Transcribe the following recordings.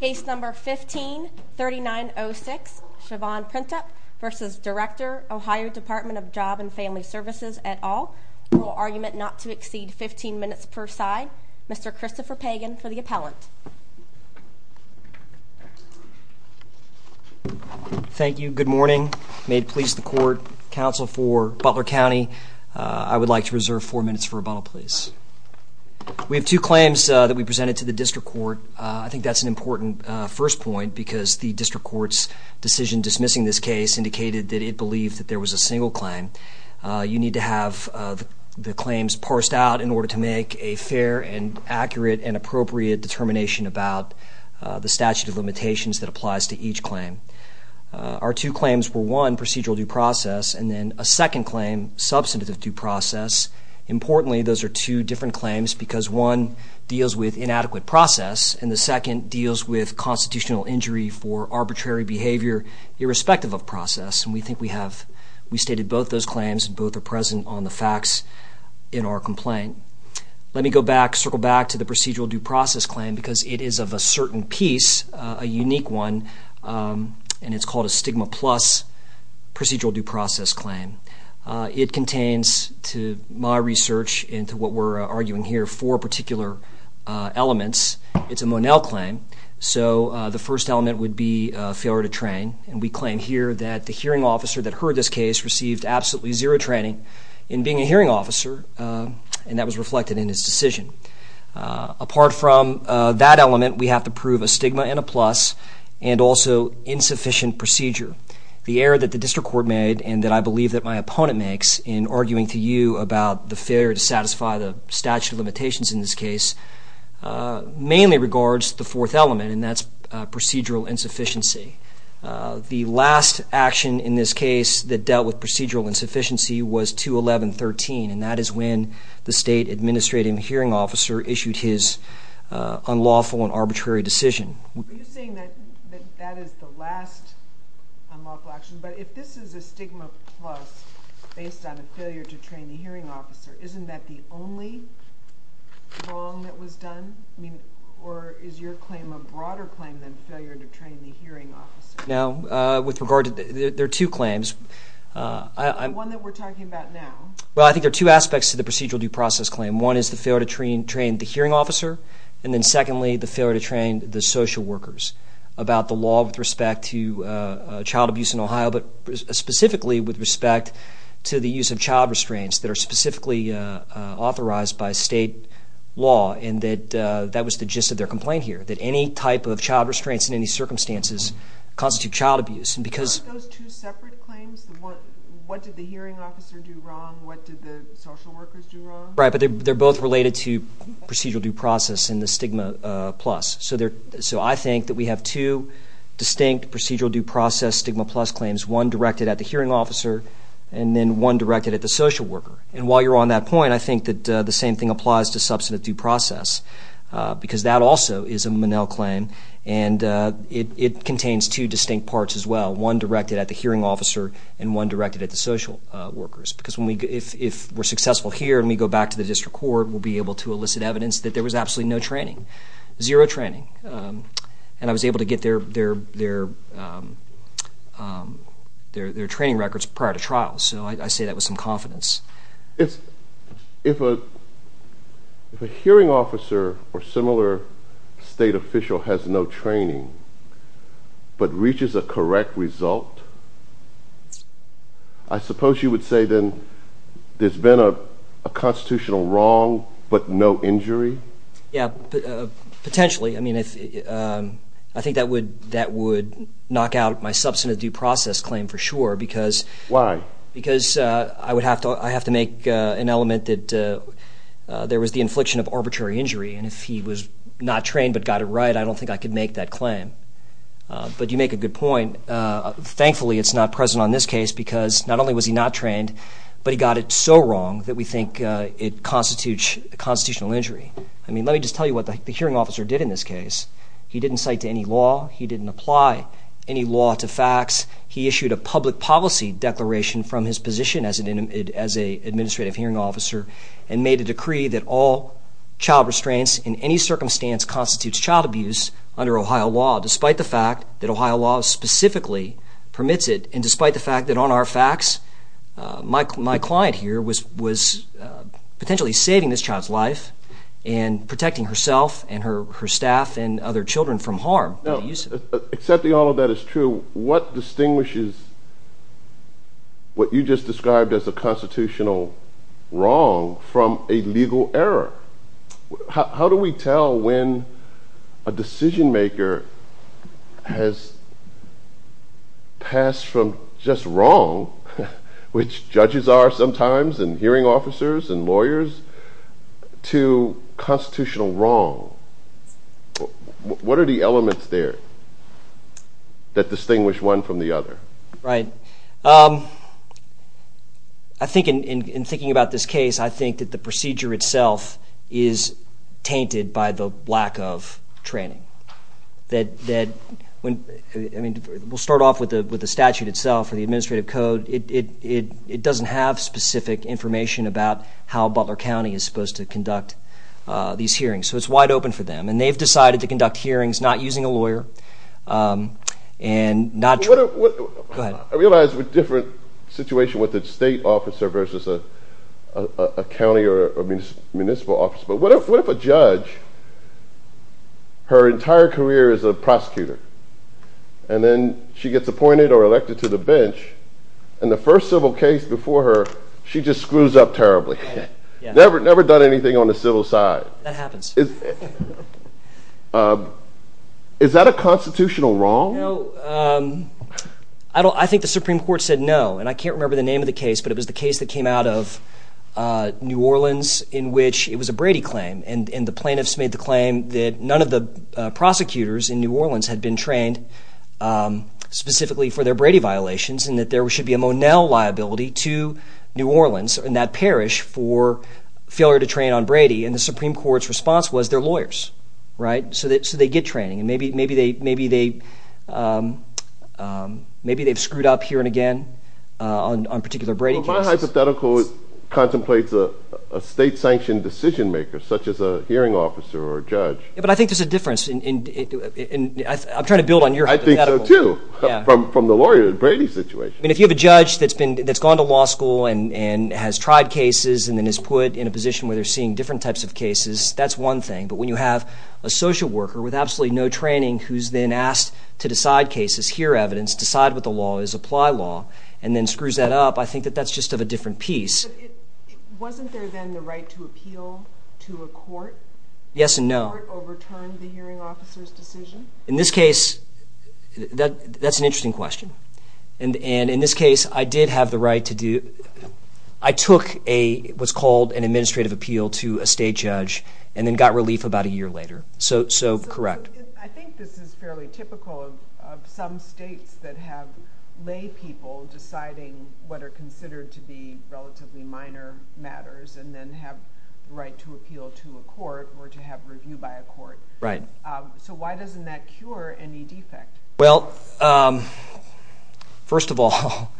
Case No. 15-3906 Chavonne Printup v. Director OH Dept. of Job and Family Services et al. Rule argument not to exceed 15 minutes per side. Mr. Christopher Pagan for the appellant. Thank you. Good morning. May it please the court. Counsel for Butler County. I would like to reserve 4 minutes for rebuttal please. We have two claims that we presented to the district court. I think that's an important first point because the district court's decision dismissing this case indicated that it believed that there was a single claim. You need to have the claims parsed out in order to make a fair and accurate and appropriate determination about the statute of limitations that applies to each claim. Our two claims were one procedural due process and then a second claim substantive due process. Importantly, those are two different claims because one deals with inadequate process and the second deals with constitutional injury for arbitrary behavior irrespective of process. And we think we have, we stated both those claims and both are present on the facts in our complaint. Let me go back, circle back to the procedural due process claim because it is of a certain piece, a unique one, and it's called a stigma plus procedural due process claim. It contains, to my research and to what we're arguing here, four particular elements. It's a Monell claim, so the first element would be failure to train. And we claim here that the hearing officer that heard this case received absolutely zero training in being a hearing officer and that was reflected in his decision. Apart from that element, we have to prove a stigma and a plus and also insufficient procedure. The error that the district court made and that I believe that my opponent makes in arguing to you about the failure to satisfy the statute of limitations in this case, mainly regards the fourth element and that's procedural insufficiency. The last action in this case that dealt with procedural insufficiency was 2-11-13 and that is when the state administrative hearing officer issued his unlawful and arbitrary decision. Are you saying that that is the last unlawful action? But if this is a stigma plus based on a failure to train the hearing officer, isn't that the only wrong that was done? I mean, or is your claim a broader claim than failure to train the hearing officer? Now, with regard to, there are two claims. The one that we're talking about now. Well, I think there are two aspects to the procedural due process claim. One is the failure to train the hearing officer and then secondly the failure to train the social workers about the law with respect to child abuse in Ohio, but specifically with respect to the use of child restraints that are specifically authorized by state law and that was the gist of their complaint here, that any type of child restraints in any circumstances constitute child abuse. Aren't those two separate claims? What did the hearing officer do wrong? What did the social workers do wrong? Right, but they're both related to procedural due process and the stigma plus. So I think that we have two distinct procedural due process stigma plus claims, one directed at the hearing officer and then one directed at the social worker. And while you're on that point, I think that the same thing applies to substantive due process because that also is a Monell claim and it contains two distinct parts as well, one directed at the hearing officer and one directed at the social workers. Because if we're successful here and we go back to the district court, we'll be able to elicit evidence that there was absolutely no training, zero training. And I was able to get their training records prior to trial, so I say that with some confidence. If a hearing officer or similar state official has no training but reaches a correct result, I suppose you would say then there's been a constitutional wrong but no injury? Yeah, potentially. I mean, I think that would knock out my substantive due process claim for sure. Why? Because I would have to make an element that there was the infliction of arbitrary injury. And if he was not trained but got it right, I don't think I could make that claim. But you make a good point. Thankfully, it's not present on this case because not only was he not trained, but he got it so wrong that we think it constitutes a constitutional injury. I mean, let me just tell you what the hearing officer did in this case. He didn't cite to any law. He didn't apply any law to facts. He issued a public policy declaration from his position as an administrative hearing officer and made a decree that all child restraints in any circumstance constitutes child abuse under Ohio law, despite the fact that Ohio law specifically permits it and despite the fact that on our facts my client here was potentially saving this child's life and protecting herself and her staff and other children from harm. Now, accepting all of that is true, what distinguishes what you just described as a constitutional wrong from a legal error? How do we tell when a decision maker has passed from just wrong, which judges are sometimes and hearing officers and lawyers, to constitutional wrong? What are the elements there that distinguish one from the other? Right. I think in thinking about this case, I think that the procedure itself is tainted by the lack of training. I mean, we'll start off with the statute itself or the administrative code. It doesn't have specific information about how Butler County is supposed to conduct these hearings, so it's wide open for them, and they've decided to conduct hearings not using a lawyer and not training. I realize we're in a different situation with a state officer versus a county or municipal officer, but what if a judge, her entire career as a prosecutor, and then she gets appointed or elected to the bench, and the first civil case before her, she just screws up terribly, never done anything on the civil side. That happens. Is that a constitutional wrong? No. I think the Supreme Court said no, and I can't remember the name of the case, but it was the case that came out of New Orleans in which it was a Brady claim, and the plaintiffs made the claim that none of the prosecutors in New Orleans had been trained specifically for their Brady violations and that there should be a Monell liability to New Orleans and that parish for failure to train on Brady, and the Supreme Court's response was they're lawyers, right? So they get training, and maybe they've screwed up here and again on particular Brady cases. Well, my hypothetical contemplates a state-sanctioned decision-maker such as a hearing officer or a judge. But I think there's a difference, and I'm trying to build on your hypothetical. I think so, too, from the lawyer Brady situation. I mean, if you have a judge that's gone to law school and has tried cases and then is put in a position where they're seeing different types of cases, that's one thing, but when you have a social worker with absolutely no training who's then asked to decide cases, hear evidence, decide what the law is, apply law, and then screws that up, I think that that's just of a different piece. Wasn't there then the right to appeal to a court? Yes and no. Did the court overturn the hearing officer's decision? In this case, that's an interesting question. And in this case, I did have the right to do it. I took what's called an administrative appeal to a state judge and then got relief about a year later. So correct. I think this is fairly typical of some states that have lay people deciding what are considered to be relatively minor matters and then have the right to appeal to a court or to have review by a court. Right. So why doesn't that cure any defect? Well, first of all,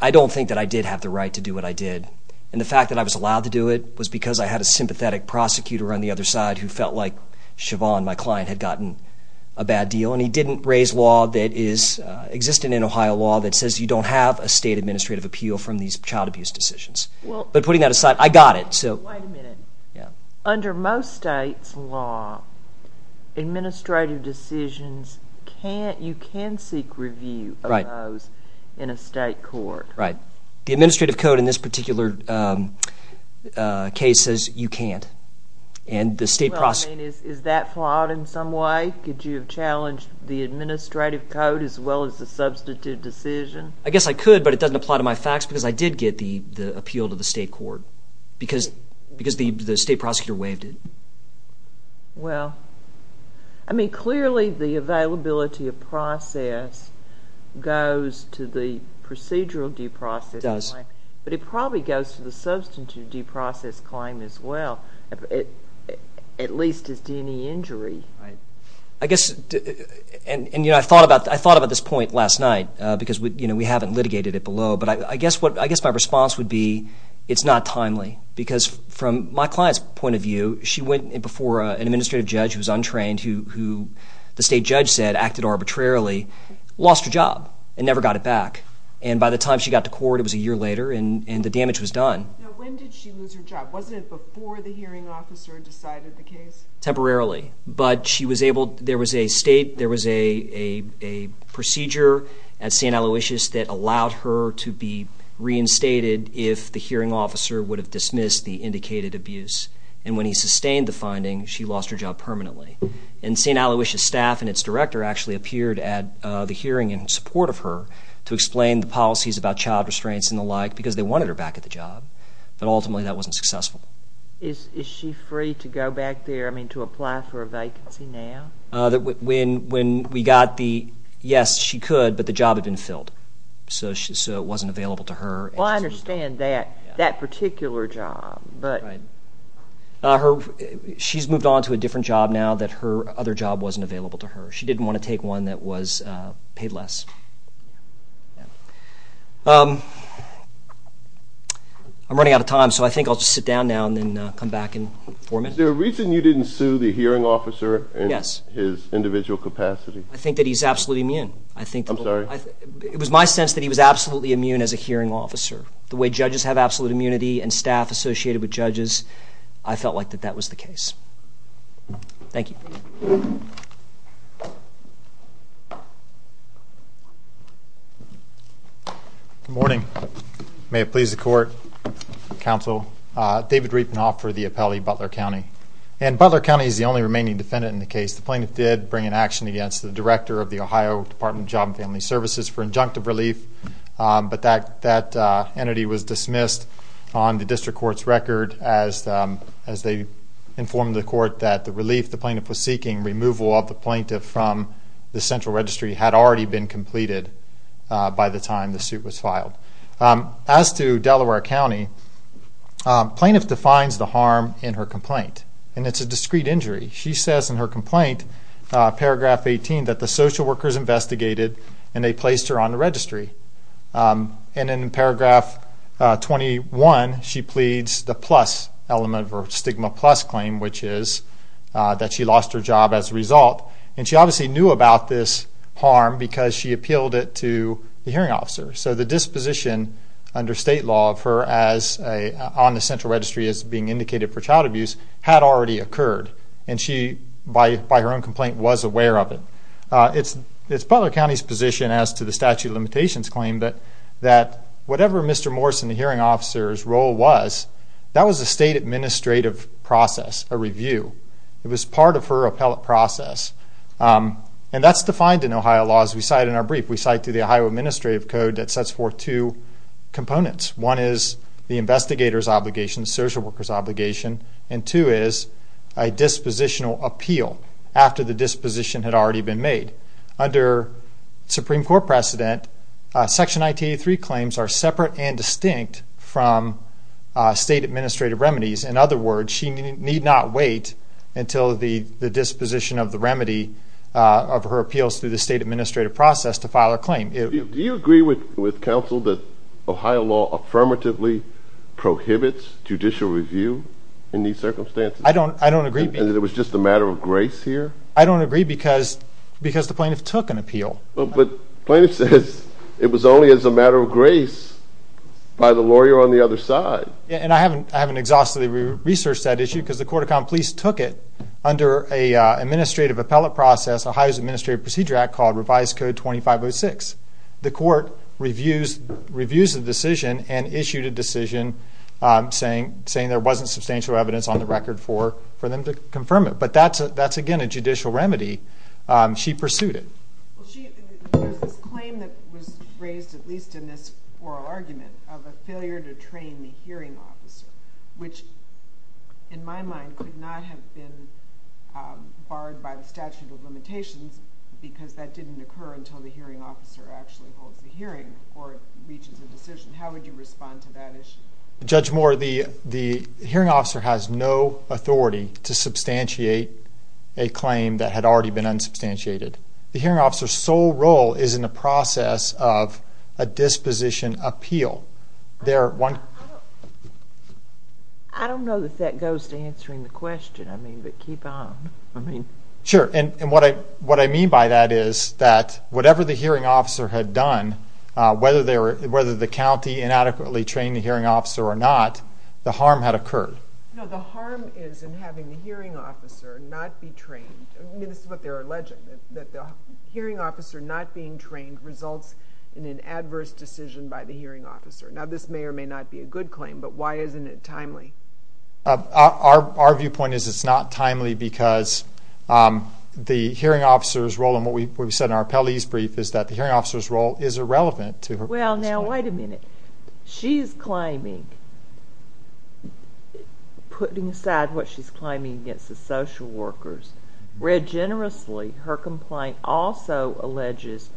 I don't think that I did have the right to do what I did. And the fact that I was allowed to do it was because I had a sympathetic prosecutor on the other side who felt like Siobhan, my client, had gotten a bad deal. And he didn't raise law that is existing in Ohio law that says you don't have a state administrative appeal from these child abuse decisions. But putting that aside, I got it. Wait a minute. Yeah. Under most states' law, administrative decisions, you can seek review of those in a state court. Right. The administrative code in this particular case says you can't. Well, I mean, is that flawed in some way? Could you have challenged the administrative code as well as the substantive decision? I guess I could, but it doesn't apply to my facts because I did get the appeal to the state court because the state prosecutor waived it. Well, I mean, clearly the availability of process goes to the procedural due process. It does. But it probably goes to the substantive due process claim as well, at least as to any injury. Right. I guess, and I thought about this point last night because we haven't litigated it below, but I guess my response would be it's not timely because from my client's point of view, she went before an administrative judge who was untrained, who the state judge said acted arbitrarily, lost her job and never got it back. And by the time she got to court, it was a year later, and the damage was done. Now, when did she lose her job? Wasn't it before the hearing officer decided the case? Temporarily. But she was able, there was a state, there was a procedure at St. Aloysius that allowed her to be reinstated if the hearing officer would have dismissed the indicated abuse. And when he sustained the finding, she lost her job permanently. And St. Aloysius staff and its director actually appeared at the hearing in support of her to explain the policies about child restraints and the like because they wanted her back at the job, but ultimately that wasn't successful. Is she free to go back there, I mean, to apply for a vacancy now? When we got the, yes, she could, but the job had been filled. So it wasn't available to her. Well, I understand that particular job. She's moved on to a different job now that her other job wasn't available to her. She didn't want to take one that was paid less. I'm running out of time, so I think I'll just sit down now and then come back in four minutes. Is there a reason you didn't sue the hearing officer in his individual capacity? Yes. I think that he's absolutely immune. I'm sorry? It was my sense that he was absolutely immune as a hearing officer. The way judges have absolute immunity and staff associated with judges, I felt like that that was the case. Thank you. Thank you. Good morning. May it please the Court, Counsel, David Riefenhoff for the appellee, Butler County. And Butler County is the only remaining defendant in the case. The plaintiff did bring an action against the director of the Ohio Department of Job and Family Services for injunctive relief, but that entity was dismissed on the district court's record as they informed the court that the relief, the plaintiff was seeking removal of the plaintiff from the central registry, had already been completed by the time the suit was filed. As to Delaware County, plaintiff defines the harm in her complaint, and it's a discrete injury. She says in her complaint, paragraph 18, that the social workers investigated and they placed her on the registry. And in paragraph 21, she pleads the plus element of her stigma plus claim, which is that she lost her job as a result. And she obviously knew about this harm because she appealed it to the hearing officer. So the disposition under state law of her on the central registry as being indicated for child abuse had already occurred, and she, by her own complaint, was aware of it. It's Butler County's position, as to the statute of limitations claim, that whatever Mr. Morrison, the hearing officer's role was, that was a state administrative process, a review. It was part of her appellate process. And that's defined in Ohio law as we cite in our brief. We cite through the Ohio Administrative Code that sets forth two components. One is the investigator's obligation, social worker's obligation, and two is a dispositional appeal after the disposition had already been made. Under Supreme Court precedent, Section 1983 claims are separate and distinct from state administrative remedies. In other words, she need not wait until the disposition of the remedy of her appeals through the state administrative process to file a claim. Do you agree with counsel that Ohio law affirmatively prohibits judicial review in these circumstances? I don't agree. And it was just a matter of grace here? I don't agree because the plaintiff took an appeal. But the plaintiff says it was only as a matter of grace by the lawyer on the other side. And I haven't exhaustively researched that issue because the Court of Common Pleas took it under an administrative appellate process, Ohio's Administrative Procedure Act called Revised Code 2506. The court reviews the decision and issued a decision saying there wasn't substantial evidence on the record for them to confirm it. But that's, again, a judicial remedy. She pursued it. There's this claim that was raised, at least in this oral argument, of a failure to train the hearing officer, which in my mind could not have been barred by the statute of limitations because that didn't occur until the hearing officer actually holds the hearing or reaches a decision. How would you respond to that issue? Judge Moore, the hearing officer has no authority to substantiate a claim that had already been unsubstantiated. The hearing officer's sole role is in the process of a disposition appeal. I don't know that that goes to answering the question, but keep on. Sure, and what I mean by that is that whatever the hearing officer had done, whether the county inadequately trained the hearing officer or not, the harm had occurred. No, the harm is in having the hearing officer not be trained. This is what they're alleging, that the hearing officer not being trained results in an adverse decision by the hearing officer. Now, this may or may not be a good claim, but why isn't it timely? Our viewpoint is it's not timely because the hearing officer's role, and what we've said in our appellee's brief, is that the hearing officer's role is irrelevant to her claim. Well, now, wait a minute. She's claiming, putting aside what she's claiming against the social workers, read generously her complaint also alleges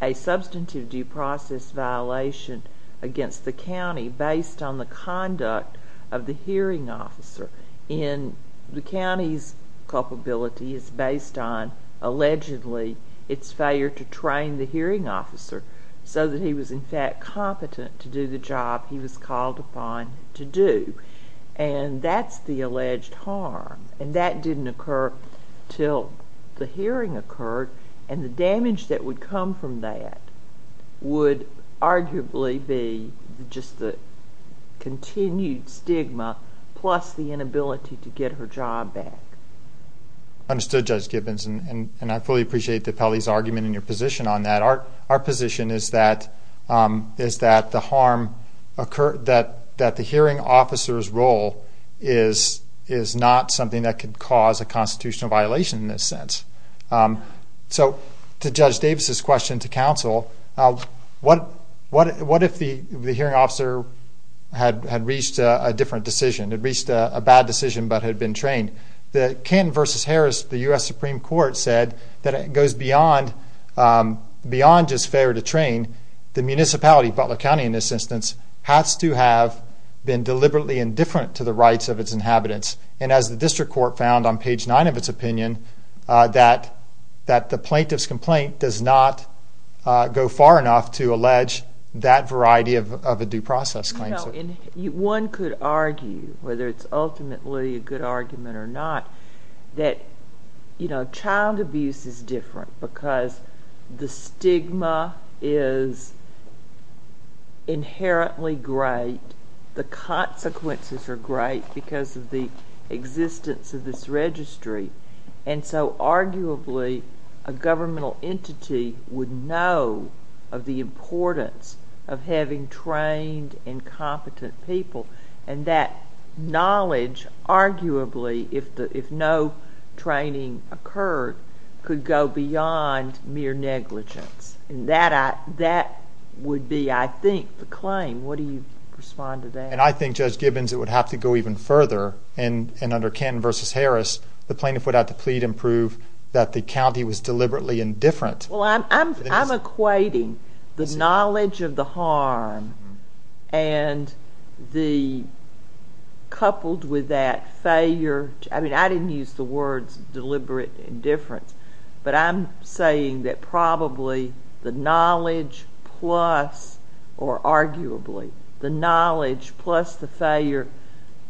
a substantive due process violation against the county based on the conduct of the hearing officer. The county's culpability is based on, allegedly, its failure to train the hearing officer so that he was, in fact, competent to do the job he was called upon to do, and that's the alleged harm, and that didn't occur until the hearing occurred, and the damage that would come from that would arguably be just the continued stigma plus the inability to get her job back. Understood, Judge Gibbons, and I fully appreciate the appellee's argument and your position on that. Our position is that the hearing officer's role is not something that could cause a constitutional violation in this sense. So, to Judge Davis's question to counsel, what if the hearing officer had reached a different decision, had reached a bad decision but had been trained? The Kenton v. Harris, the U.S. Supreme Court, said that it goes beyond just failure to train. The municipality, Butler County in this instance, has to have been deliberately indifferent to the rights of its inhabitants, and as the district court found on page 9 of its opinion, that the plaintiff's complaint does not go far enough to allege that variety of a due process claim. One could argue, whether it's ultimately a good argument or not, that child abuse is different because the stigma is inherently great, and the consequences are great because of the existence of this registry, and so arguably a governmental entity would know of the importance of having trained and competent people, and that knowledge, arguably, if no training occurred, could go beyond mere negligence. And that would be, I think, the claim. What do you respond to that? And I think, Judge Gibbons, it would have to go even further, and under Kenton v. Harris, the plaintiff would have to plead and prove that the county was deliberately indifferent. Well, I'm equating the knowledge of the harm and the, coupled with that failure, I mean, I didn't use the words deliberate indifference, but I'm saying that probably the knowledge plus, or arguably, the knowledge plus the failure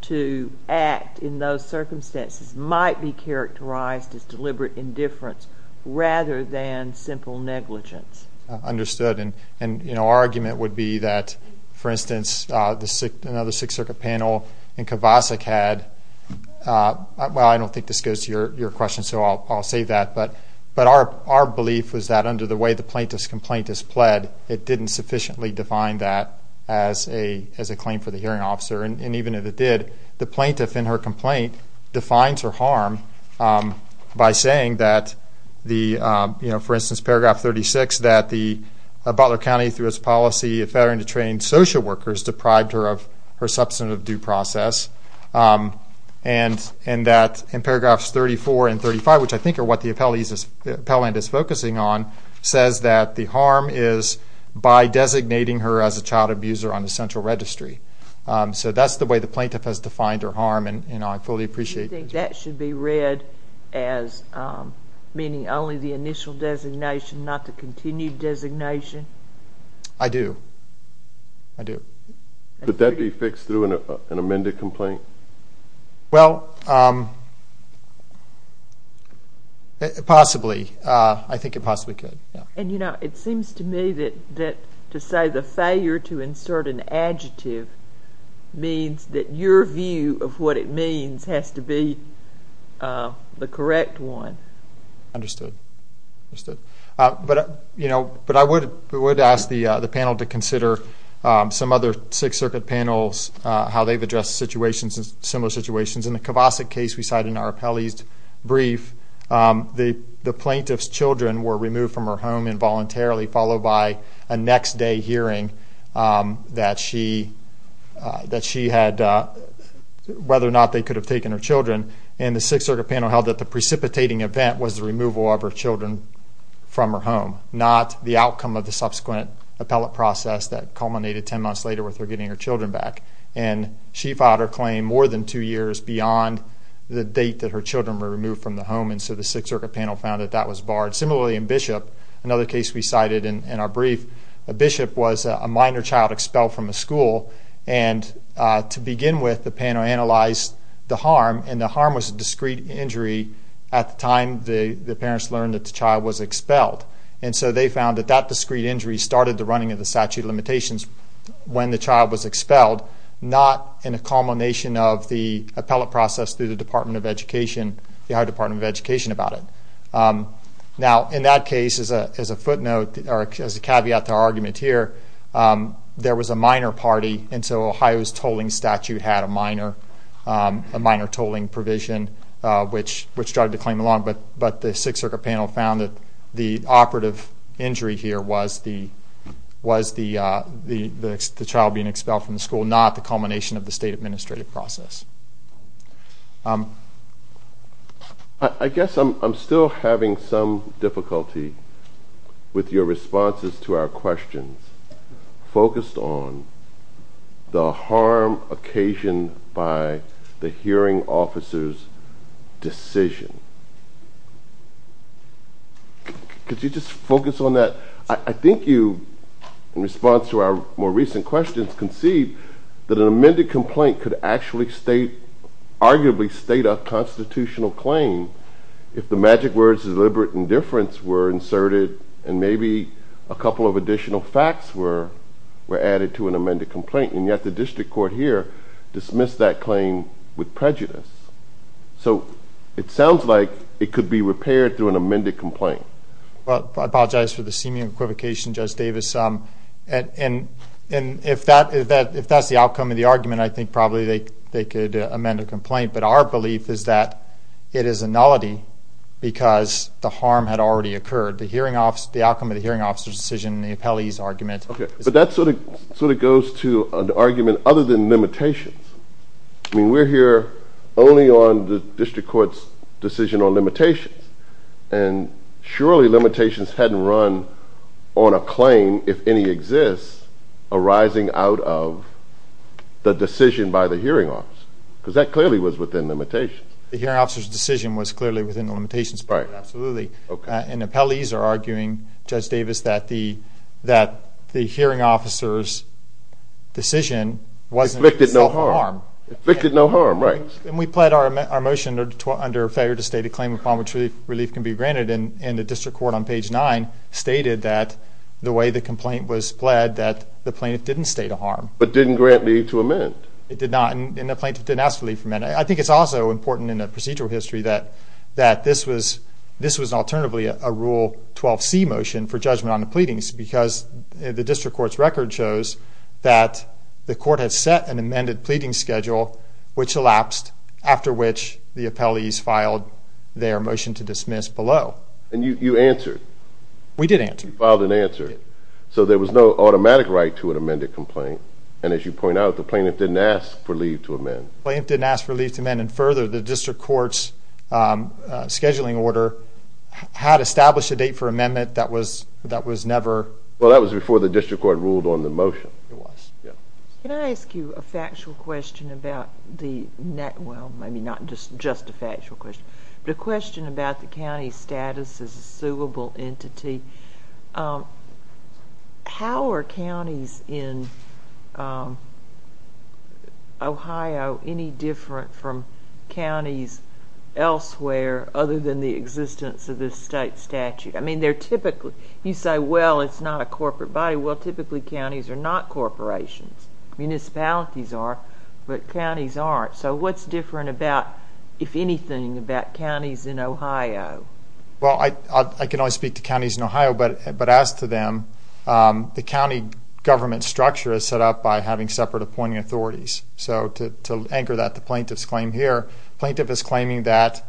to act in those circumstances might be characterized as deliberate indifference rather than simple negligence. Understood, and our argument would be that, for instance, another Sixth Circuit panel in Kovacic had, well, I don't think this goes to your question, so I'll save that, but our belief was that under the way the plaintiff's complaint is pled, it didn't sufficiently define that as a claim for the hearing officer, and even if it did, the plaintiff in her complaint defines her harm by saying that, for instance, paragraph 36, that the Butler County, through its policy of failing to train social workers, deprived her of her substantive due process, and that in paragraphs 34 and 35, which I think are what the appellant is focusing on, says that the harm is by designating her as a child abuser on the central registry. So that's the way the plaintiff has defined her harm, and I fully appreciate that. Do you think that should be read as meaning only the initial designation, not the continued designation? I do. I do. Could that be fixed through an amended complaint? Well, possibly. I think it possibly could. And, you know, it seems to me that to say the failure to insert an adjective means that your view of what it means has to be the correct one. Understood. But, you know, I would ask the panel to consider some other Sixth Circuit panels, how they've addressed similar situations. In the Kovacic case we cited in our appellee's brief, the plaintiff's children were removed from her home involuntarily, followed by a next-day hearing that she had whether or not they could have taken her children. And the Sixth Circuit panel held that the precipitating event was the removal of her children from her home, not the outcome of the subsequent appellate process that culminated ten months later with her getting her children back. And she filed her claim more than two years beyond the date that her children were removed from the home, and so the Sixth Circuit panel found that that was barred. Similarly, in Bishop, another case we cited in our brief, Bishop was a minor child expelled from a school. And to begin with, the panel analyzed the harm, and the harm was a discrete injury at the time the parents learned that the child was expelled. And so they found that that discrete injury started the running of the statute of limitations when the child was expelled, not in a culmination of the appellate process through the Department of Education, the Higher Department of Education about it. Now, in that case, as a footnote, or as a caveat to our argument here, there was a minor party, and so Ohio's tolling statute had a minor tolling provision, which started the claim along. But the Sixth Circuit panel found that the operative injury here was the child being expelled from the school, not the culmination of the state administrative process. I guess I'm still having some difficulty with your responses to our questions focused on the harm occasioned by the hearing officer's decision. Could you just focus on that? I think you, in response to our more recent questions, conceived that an amended complaint could actually state, arguably state a constitutional claim if the magic words deliberate indifference were inserted and maybe a couple of additional facts were added to an amended complaint. And yet the district court here dismissed that claim with prejudice. So it sounds like it could be repaired through an amended complaint. Well, I apologize for the seeming equivocation, Judge Davis. And if that's the outcome of the argument, I think probably they could amend a complaint. But our belief is that it is a nullity because the harm had already occurred, the outcome of the hearing officer's decision and the appellee's argument. But that sort of goes to an argument other than limitations. I mean, we're here only on the district court's decision on limitations. And surely limitations hadn't run on a claim, if any exists, arising out of the decision by the hearing officer because that clearly was within limitations. The hearing officer's decision was clearly within the limitations. Right. Absolutely. Okay. And appellees are arguing, Judge Davis, that the hearing officer's decision wasn't self-harm. Afflicted no harm. Afflicted no harm, right. And we pled our motion under a failure to state a claim upon which relief can be granted. And the district court on page 9 stated that the way the complaint was pled, that the plaintiff didn't state a harm. But didn't grant leave to amend. It did not. And the plaintiff didn't ask for leave to amend. I think it's also important in the procedural history that this was alternatively a Rule 12C motion for judgment on the pleadings because the district court's record shows that the court had set an amended pleading schedule which elapsed, after which the appellees filed their motion to dismiss below. And you answered. We did answer. You filed an answer. Yes. So there was no automatic right to an amended complaint. And as you point out, the plaintiff didn't ask for leave to amend. The plaintiff didn't ask for leave to amend. And further, the district court's scheduling order had established a date for amendment that was never. Well, that was before the district court ruled on the motion. It was. Can I ask you a factual question about the, well, maybe not just a factual question, but a question about the county's status as a suable entity. How are counties in Ohio any different from counties elsewhere other than the existence of this state statute? I mean, they're typically, you say, well, it's not a corporate body. Well, typically counties are not corporations. Municipalities are, but counties aren't. So what's different about, if anything, about counties in Ohio? Well, I can only speak to counties in Ohio, but as to them, the county government structure is set up by having separate appointing authorities. So to anchor that to the plaintiff's claim here, the plaintiff is claiming that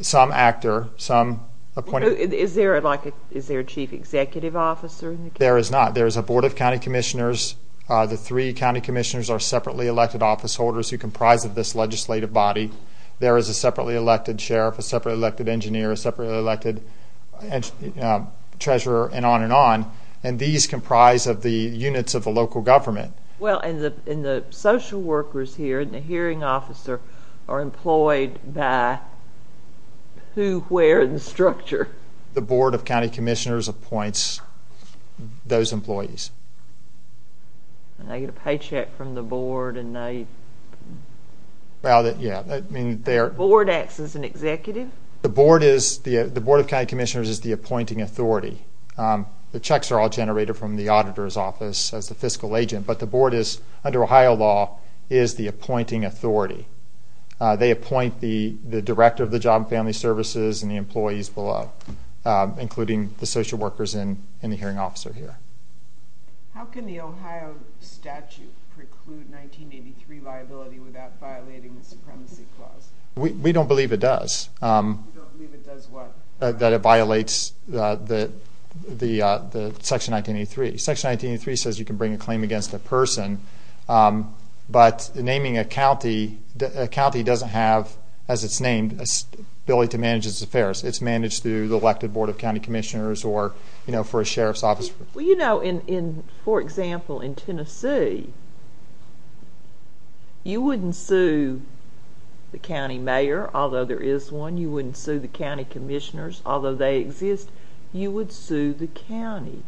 some actor, some appointee. Is there a chief executive officer in the county? There is not. There is a board of county commissioners. The three county commissioners are separately elected office holders who comprise of this legislative body. There is a separately elected sheriff, a separately elected engineer, a separately elected treasurer, and on and on. And these comprise of the units of the local government. Well, and the social workers here and the hearing officer are employed by who, where, and the structure? The board of county commissioners appoints those employees. And they get a paycheck from the board and they? Well, yeah. The board acts as an executive? The board of county commissioners is the appointing authority. The checks are all generated from the auditor's office as the fiscal agent, but the board is, under Ohio law, is the appointing authority. They appoint the director of the job and family services and the employees below, including the social workers and the hearing officer here. How can the Ohio statute preclude 1983 liability without violating the supremacy clause? We don't believe it does. You don't believe it does what? That it violates Section 1983. Section 1983 says you can bring a claim against a person, but naming a county doesn't have, as it's named, the ability to manage its affairs. It's managed through the elected board of county commissioners or, you know, for a sheriff's office. Well, you know, for example, in Tennessee, you wouldn't sue the county mayor, although there is one. You wouldn't sue the county commissioners, although they exist. You would sue the county.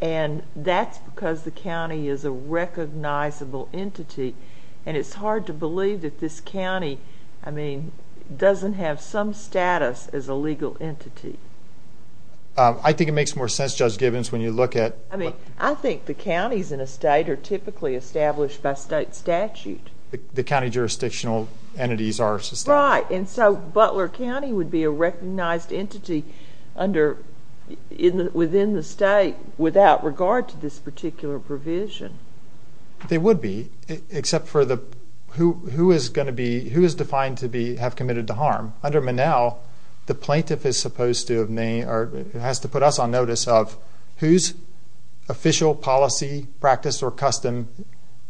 And that's because the county is a recognizable entity. And it's hard to believe that this county, I mean, doesn't have some status as a legal entity. I think it makes more sense, Judge Gibbons, when you look at... I mean, I think the counties in a state are typically established by state statute. The county jurisdictional entities are... Right, and so Butler County would be a recognized entity within the state without regard to this particular provision. They would be, except for the who is going to be, who is defined to have committed the harm. Under Monell, the plaintiff is supposed to have named or has to put us on notice of whose official policy, practice, or custom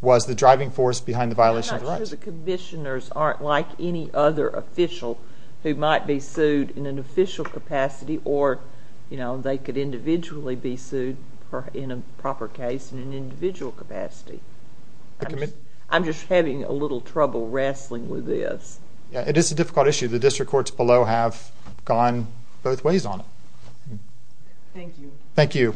was the driving force behind the violation of the rights. I'm not sure the commissioners aren't like any other official who might be sued in an official capacity or they could individually be sued in a proper case in an individual capacity. I'm just having a little trouble wrestling with this. It is a difficult issue. The district courts below have gone both ways on it. Thank you. Thank you.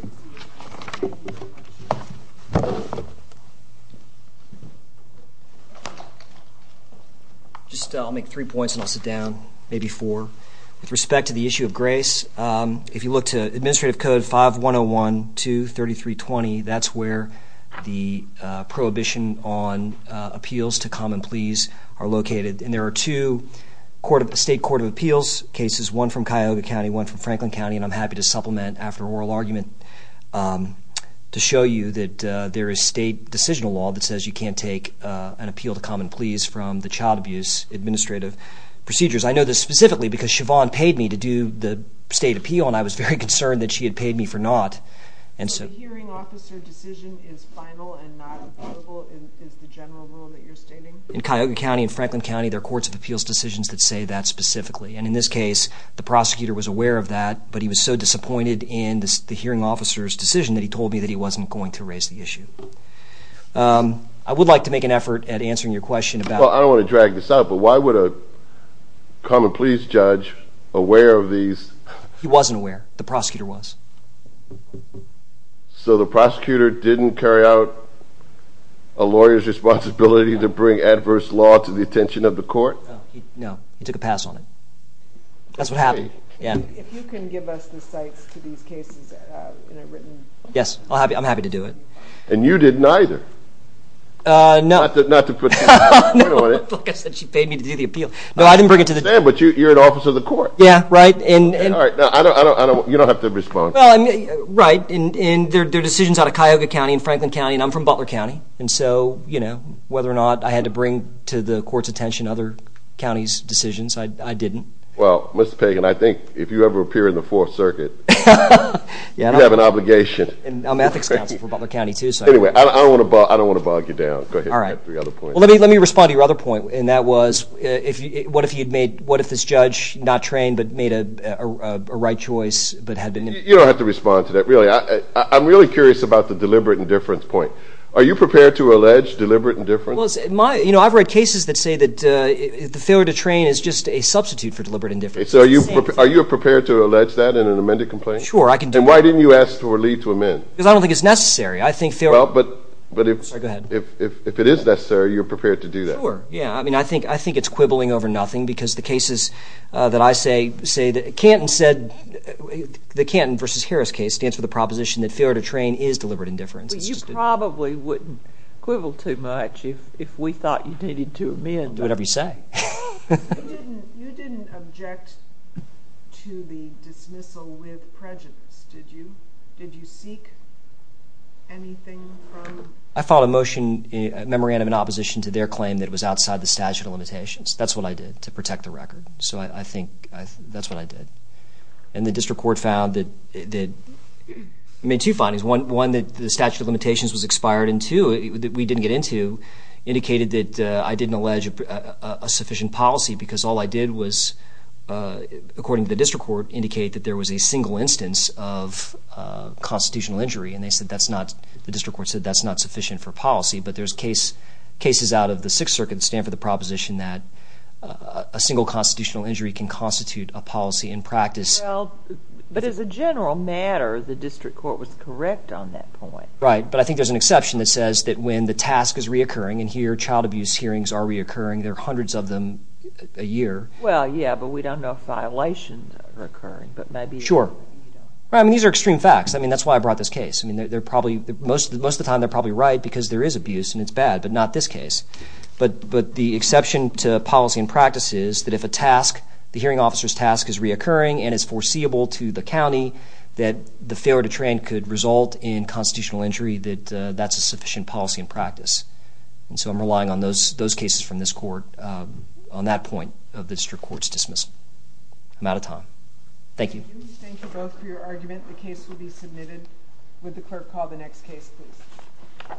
I'll make three points and I'll sit down, maybe four. With respect to the issue of grace, if you look to Administrative Code 5101-23320, that's where the prohibition on appeals to common pleas are located. And there are two state court of appeals cases, one from Cuyahoga County, one from Franklin County, and I'm happy to supplement after oral argument to show you that there is state decisional law that says you can't take an appeal to common pleas from the child abuse administrative procedures. I know this specifically because Siobhan paid me to do the state appeal and I was very concerned that she had paid me for not. The hearing officer decision is final and not applicable in the general rule that you're stating? In Cuyahoga County and Franklin County, there are courts of appeals decisions that say that specifically. And in this case, the prosecutor was aware of that, but he was so disappointed in the hearing officer's decision that he told me that he wasn't going to raise the issue. I would like to make an effort at answering your question about I don't want to drag this out, but why would a common pleas judge aware of these? He wasn't aware. The prosecutor was. So the prosecutor didn't carry out a lawyer's responsibility to bring adverse law to the attention of the court? No, he took a pass on it. That's what happened. If you can give us the sites to these cases in a written... Yes, I'm happy to do it. And you didn't either? Not to put too much weight on it. I said she paid me to do the appeal. No, I didn't bring it to the... But you're an officer of the court. Yeah, right. All right, you don't have to respond. Right, and they're decisions out of Cuyahoga County and Franklin County, and I'm from Butler County. And so whether or not I had to bring to the court's attention other counties' decisions, I didn't. Well, Mr. Pagan, I think if you ever appear in the Fourth Circuit, you have an obligation. I'm an ethics counsel for Butler County, too. Anyway, I don't want to bog you down. Go ahead. Let me respond to your other point, and that was what if this judge not trained but made a right choice but had been... You don't have to respond to that, really. I'm really curious about the deliberate indifference point. Are you prepared to allege deliberate indifference? Well, I've read cases that say that the failure to train is just a substitute for deliberate indifference. Are you prepared to allege that in an amended complaint? Sure, I can do it. And why didn't you ask for a leave to amend? Because I don't think it's necessary. I think... Well, but if... Sorry, go ahead. If it is necessary, you're prepared to do that. Sure. Yeah, I mean, I think it's quibbling over nothing because the cases that I say say that Canton said... The Canton v. Harris case stands for the proposition that failure to train is deliberate indifference. But you probably wouldn't quibble too much if we thought you needed to amend. Whatever you say. You didn't object to the dismissal with prejudice, did you? Did you seek anything from... I filed a motion memorandum in opposition to their claim that it was outside the statute of limitations. That's what I did to protect the record. So I think that's what I did. And the district court found that... It made two findings. One, that the statute of limitations was expired. And two, that we didn't get into, indicated that I didn't allege a sufficient policy because all I did was, according to the district court, indicate that there was a single instance of constitutional injury. And they said that's not... The district court said that's not sufficient for policy. But there's cases out of the Sixth Circuit that stand for the proposition that a single constitutional injury can constitute a policy in practice. Well, but as a general matter, the district court was correct on that point. Right, but I think there's an exception that says that when the task is reoccurring, and here child abuse hearings are reoccurring, there are hundreds of them a year. Well, yeah, but we don't know if violations are occurring. But maybe... Sure. I mean, these are extreme facts. I mean, that's why I brought this case. I mean, they're probably... Most of the time, they're probably right because there is abuse, and it's bad, but not this case. But the exception to policy in practice is that if a task, the hearing officer's task, is reoccurring and is foreseeable to the county, that the failure to train could result in constitutional injury, that that's a sufficient policy in practice. And so I'm relying on those cases from this court on that point of the district court's dismissal. I'm out of time. Thank you. Thank you both for your argument. The case will be submitted. Would the clerk call the next case, please?